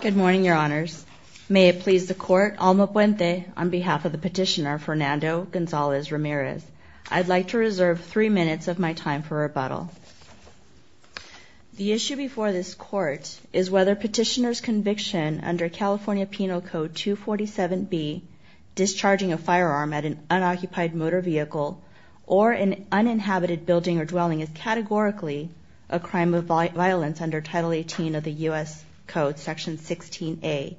Good morning, your honors. May it please the court, Alma Puente, on behalf of the petitioner, Fernando Gonzalez-Ramirez. I'd like to reserve three minutes of my time for rebuttal. The issue before this court is whether petitioner's conviction under California Penal Code 247B, discharging a firearm at an unoccupied motor vehicle or an uninhabited building or dwelling, is categorically a crime of violence under Title 18 of the U.S. Code, Section 16A.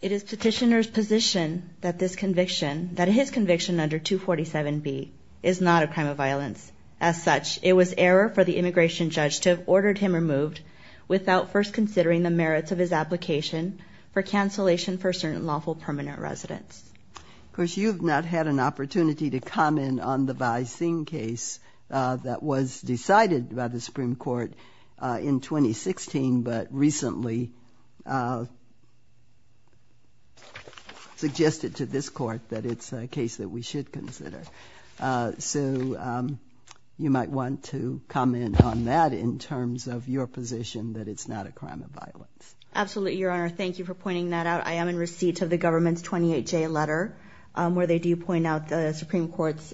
It is petitioner's position that this conviction, that his conviction under 247B, is not a crime of violence. As such, it was error for the immigration judge to have ordered him removed without first considering the merits of his application for cancellation for certain lawful permanent residence. Of course, you've not had an opportunity to comment on the Bai Xin case that was decided by the Supreme Court in 2016 but recently suggested to this court that it's a case that we should consider. So you might want to comment on that in terms of your position that it's not a crime of violence. Absolutely, Your Honor. Thank you for pointing that out. I am in receipt of the government's 28-J letter where they do point out the Supreme Court's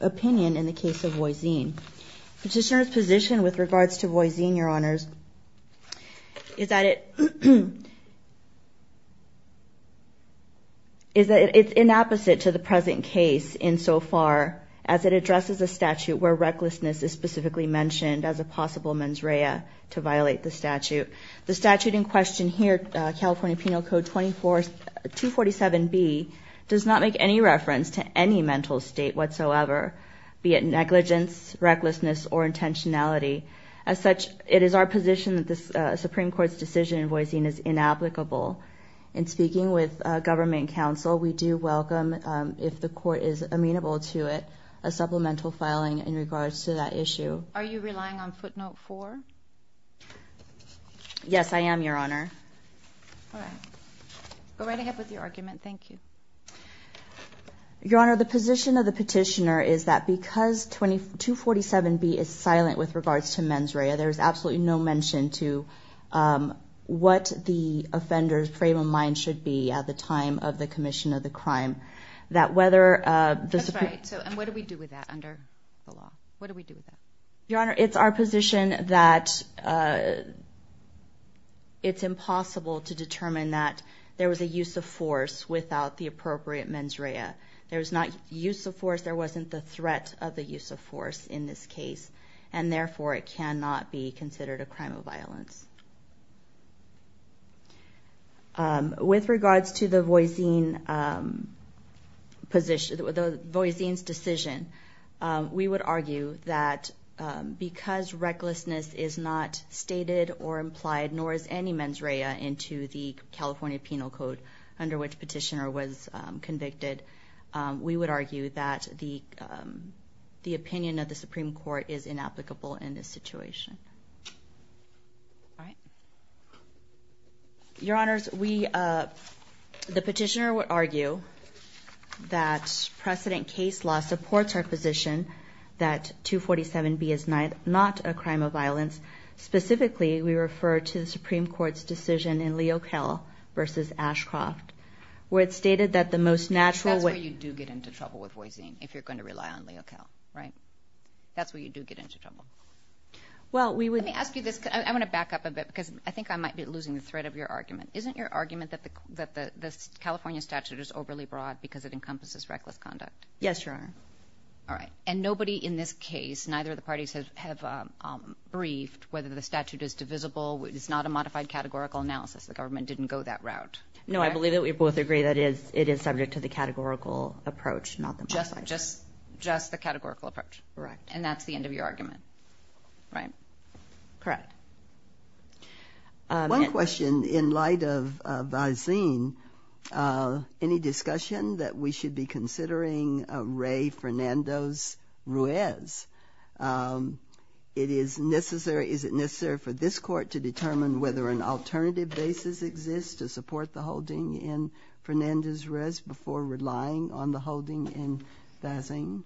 opinion in the case of Boisin. Petitioner's position with regards to Boisin, Your Honors, is that it's inapposite to the present case insofar as it addresses a statute where recklessness is specifically mentioned as a possible mens rea to violate the statute. The statute in question here, California Penal Code 247B, does not make any reference to any mental state whatsoever, be it negligence, recklessness, or intentionality. As such, it is our position that the Supreme Court's decision in Boisin is inapplicable. In speaking with government counsel, we do welcome, if the court is amenable to it, a supplemental filing in regards to that issue. Are you relying on footnote four? Yes, I am, Your Honor. All right. Go right ahead with your argument. Thank you. Your Honor, the position of the petitioner is that because 247B is silent with regards to mens rea, there is absolutely no mention to what the offender's frame of mind should be at the time of the commission of the crime. That's right. And what do we do with that under the law? What do we do with that? Your Honor, it's our position that it's impossible to determine that there was a use of force without the appropriate mens rea. There was not use of force, there wasn't the threat of the use of force in this case, and therefore it cannot be considered a crime of violence. With regards to the Boisin's decision, we would argue that because recklessness is not stated or implied, nor is any mens rea into the California Penal Code under which the petitioner was convicted, we would argue that the opinion of the Supreme Court is inapplicable in this situation. All right. Your Honors, the petitioner would argue that precedent case law supports our position that 247B is not a crime of violence. Specifically, we refer to the Supreme Court's decision in Leokell v. Ashcroft where it stated that the most natural way— That's where you do get into trouble with Boisin if you're going to rely on Leokell, right? That's where you do get into trouble. Let me ask you this because I want to back up a bit because I think I might be losing the thread of your argument. Isn't your argument that the California statute is overly broad because it encompasses reckless conduct? Yes, Your Honor. All right. And nobody in this case, neither of the parties have briefed whether the statute is divisible. It's not a modified categorical analysis. The government didn't go that route. No, I believe that we both agree that it is subject to the categorical approach, not the modified. Just the categorical approach. Correct. And that's the end of your argument, right? Correct. One question in light of Boisin. Any discussion that we should be considering Ray Fernandez-Ruiz? Is it necessary for this court to determine whether an alternative basis exists to support the holding in Fernandez-Ruiz before relying on the holding in Boisin?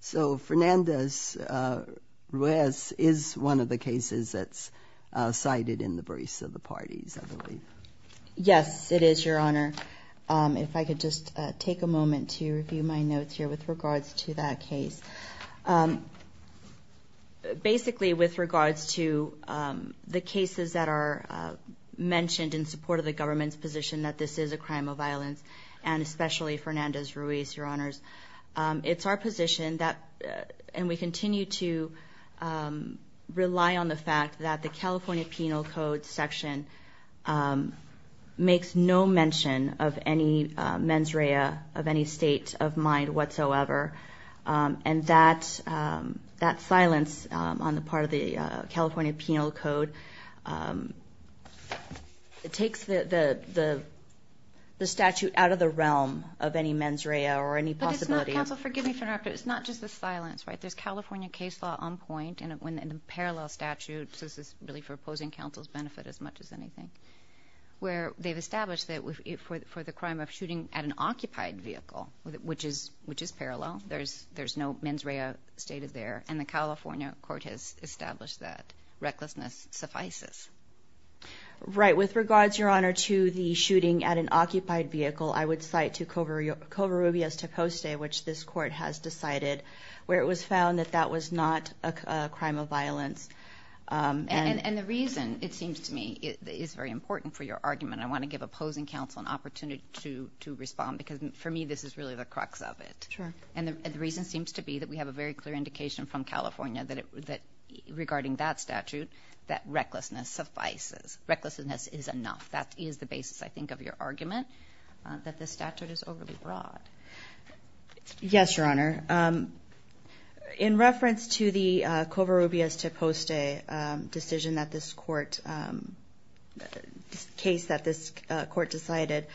So Fernandez-Ruiz is one of the cases that's cited in the briefs of the parties, I believe. Yes, it is, Your Honor. If I could just take a moment to review my notes here with regards to that case. Basically, with regards to the cases that are mentioned in support of the government's position that this is a crime of violence, and especially Fernandez-Ruiz, Your Honors. It's our position, and we continue to rely on the fact that the California Penal Code section makes no mention of any mens rea, of any state of mind whatsoever. And that silence on the part of the California Penal Code takes the statute out of the realm of any mens rea or any possibility. But it's not, counsel, forgive me for interrupting, but it's not just the silence, right? There's California case law on point in the parallel statute, so this is really for opposing counsel's benefit as much as anything, where they've established that for the crime of shooting at an occupied vehicle, which is parallel, there's no mens rea stated there, and the California court has established that recklessness suffices. Right. With regards, Your Honor, to the shooting at an occupied vehicle, I would cite to Covarrubias-Teposte, which this court has decided, where it was found that that was not a crime of violence. And the reason, it seems to me, is very important for your argument. I want to give opposing counsel an opportunity to respond because, for me, this is really the crux of it. Sure. And the reason seems to be that we have a very clear indication from California that, regarding that statute, that recklessness suffices. Recklessness is enough. That is the basis, I think, of your argument, that this statute is overly broad. Yes, Your Honor. In reference to the Covarrubias-Teposte decision that this court, case that this court decided,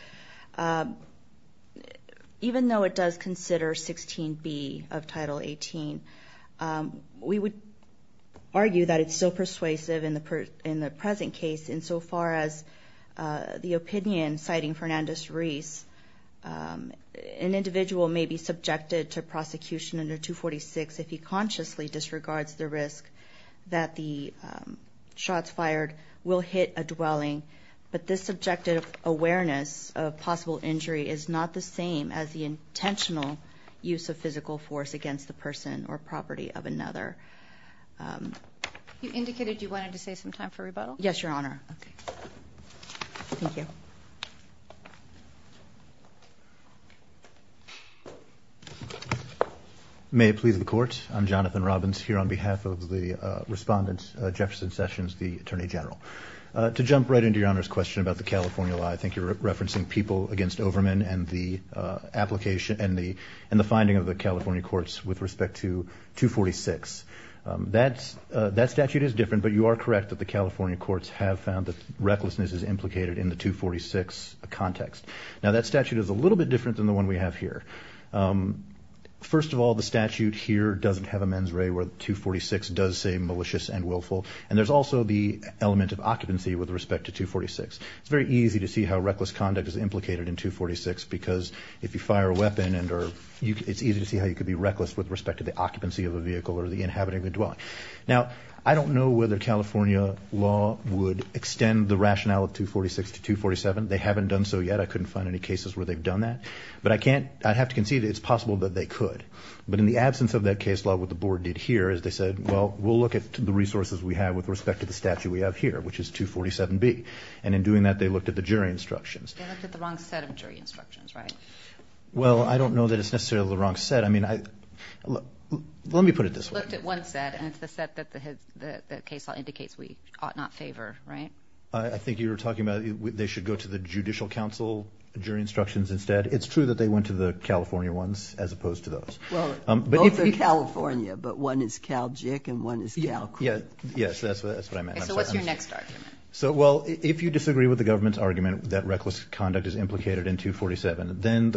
even though it does consider 16B of Title 18, we would argue that it's still persuasive in the present case, insofar as the opinion, citing Fernandez-Reese, an individual may be subjected to prosecution under 246 if he consciously disregards the risk that the shots fired will hit a dwelling. But this subjective awareness of possible injury is not the same as the intentional use of physical force against the person or property of another. You indicated you wanted to save some time for rebuttal? Yes, Your Honor. Okay. Thank you. May it please the Court. I'm Jonathan Robbins, here on behalf of the Respondent, Jefferson Sessions, the Attorney General. To jump right into Your Honor's question about the California law, I think you're referencing people against Overman and the finding of the California courts with respect to 246. That statute is different, but you are correct that the California courts have found that recklessness is implicated in the 246 context. Now, that statute is a little bit different than the one we have here. First of all, the statute here doesn't have a mens re where 246 does say malicious and willful, and there's also the element of occupancy with respect to 246. It's very easy to see how reckless conduct is implicated in 246 because if you fire a weapon, it's easy to see how you could be reckless with respect to the occupancy of a vehicle or the inhabitant of the dwelling. Now, I don't know whether California law would extend the rationale of 246 to 247. They haven't done so yet. I couldn't find any cases where they've done that. But I have to concede it's possible that they could. But in the absence of that case law, what the Board did here is they said, well, we'll look at the resources we have with respect to the statute we have here, which is 247B. And in doing that, they looked at the jury instructions. They looked at the wrong set of jury instructions, right? Well, I don't know that it's necessarily the wrong set. I mean, let me put it this way. They looked at one set, and it's the set that the case law indicates we ought not favor, right? I think you were talking about they should go to the Judicial Council jury instructions instead. It's true that they went to the California ones as opposed to those. Well, both are California, but one is Cal JIC and one is Cal CRIT. Yes, that's what I meant. So what's your next argument? Well, if you disagree with the government's argument that reckless conduct is implicated in 247, then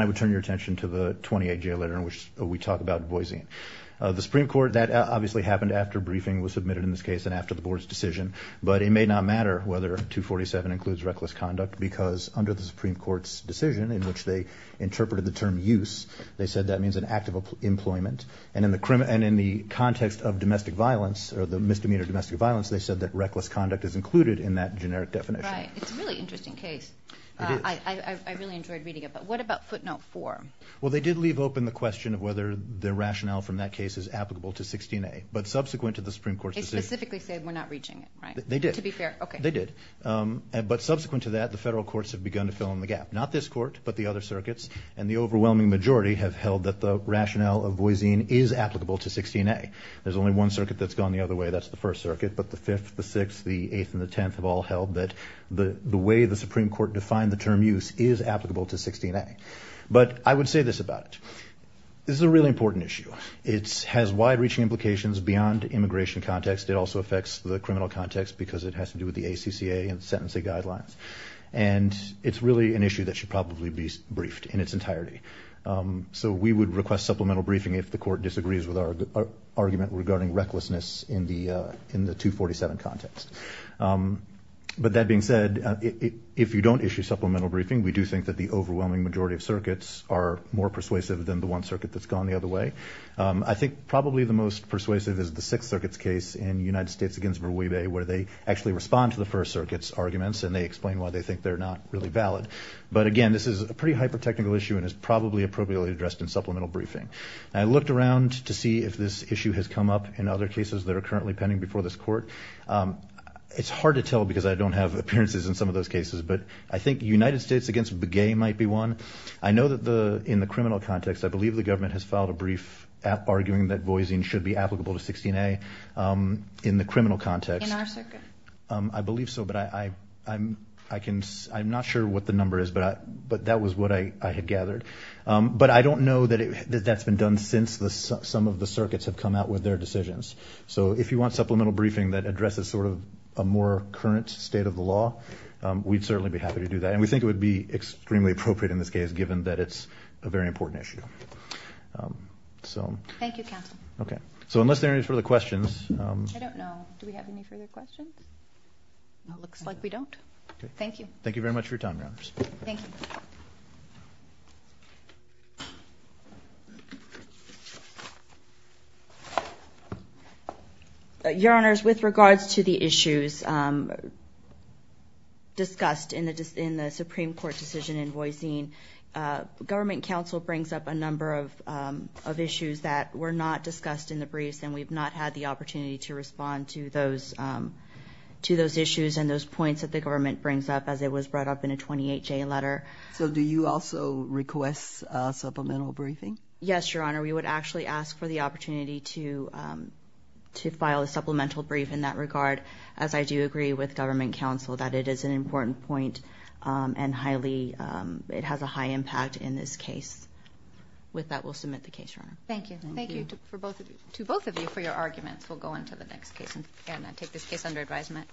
I would turn your attention to the 28-J letter in which we talk about Boise. The Supreme Court, that obviously happened after briefing was submitted in this case and after the Board's decision. But it may not matter whether 247 includes reckless conduct because under the Supreme Court's decision in which they interpreted the term use, they said that means an act of employment. And in the context of domestic violence or the misdemeanor domestic violence, they said that reckless conduct is included in that generic definition. Right. It's a really interesting case. It is. I really enjoyed reading it. But what about footnote 4? Well, they did leave open the question of whether the rationale from that case is applicable to 16A. But subsequent to the Supreme Court's decision. They specifically said we're not reaching it, right? They did. To be fair, okay. They did. But subsequent to that, the federal courts have begun to fill in the gap. Not this court, but the other circuits. And the overwhelming majority have held that the rationale of Boise is applicable to 16A. There's only one circuit that's gone the other way. That's the First Circuit. But the Fifth, the Sixth, the Eighth, and the Tenth have all held that the way the Supreme Court defined the term use is applicable to 16A. But I would say this about it. This is a really important issue. It has wide-reaching implications beyond immigration context. It also affects the criminal context because it has to do with the ACCA and sentencing guidelines. And it's really an issue that should probably be briefed in its entirety. So we would request supplemental briefing if the court disagrees with our argument regarding recklessness in the 247 context. But that being said, if you don't issue supplemental briefing, we do think that the overwhelming majority of circuits are more persuasive than the one circuit that's gone the other way. I think probably the most persuasive is the Sixth Circuit's case in United States against Burweibei where they actually respond to the First Circuit's arguments and they explain why they think they're not really valid. But again, this is a pretty hyper-technical issue and is probably appropriately addressed in supplemental briefing. I looked around to see if this issue has come up in other cases that are currently pending before this court. It's hard to tell because I don't have appearances in some of those cases. But I think United States against Burweibei might be one. I know that in the criminal context, I believe the government has filed a brief arguing that voising should be applicable to 16A. In the criminal context, I believe so. But I'm not sure what the number is. But that was what I had gathered. But I don't know that that's been done since some of the circuits have come out with their decisions. So if you want supplemental briefing that addresses sort of a more current state of the law, we'd certainly be happy to do that. And we think it would be extremely appropriate in this case given that it's a very important issue. Thank you, counsel. So unless there are any further questions. I don't know. Do we have any further questions? It looks like we don't. Thank you. Thank you very much for your time, Your Honors. Thank you. Your Honors, with regards to the issues discussed in the Supreme Court decision in voising, government counsel brings up a number of issues that were not discussed in the briefs and we've not had the opportunity to respond to those issues and those points that the government brings up, as it was brought up in a 28-J letter. So do you also request supplemental briefing? Yes, Your Honor. We would actually ask for the opportunity to file a supplemental brief in that regard, as I do agree with government counsel that it is an important point and it has a high impact in this case. With that, we'll submit the case, Your Honor. Thank you. Thank you to both of you for your arguments. We'll go on to the next case and take this case under advisement.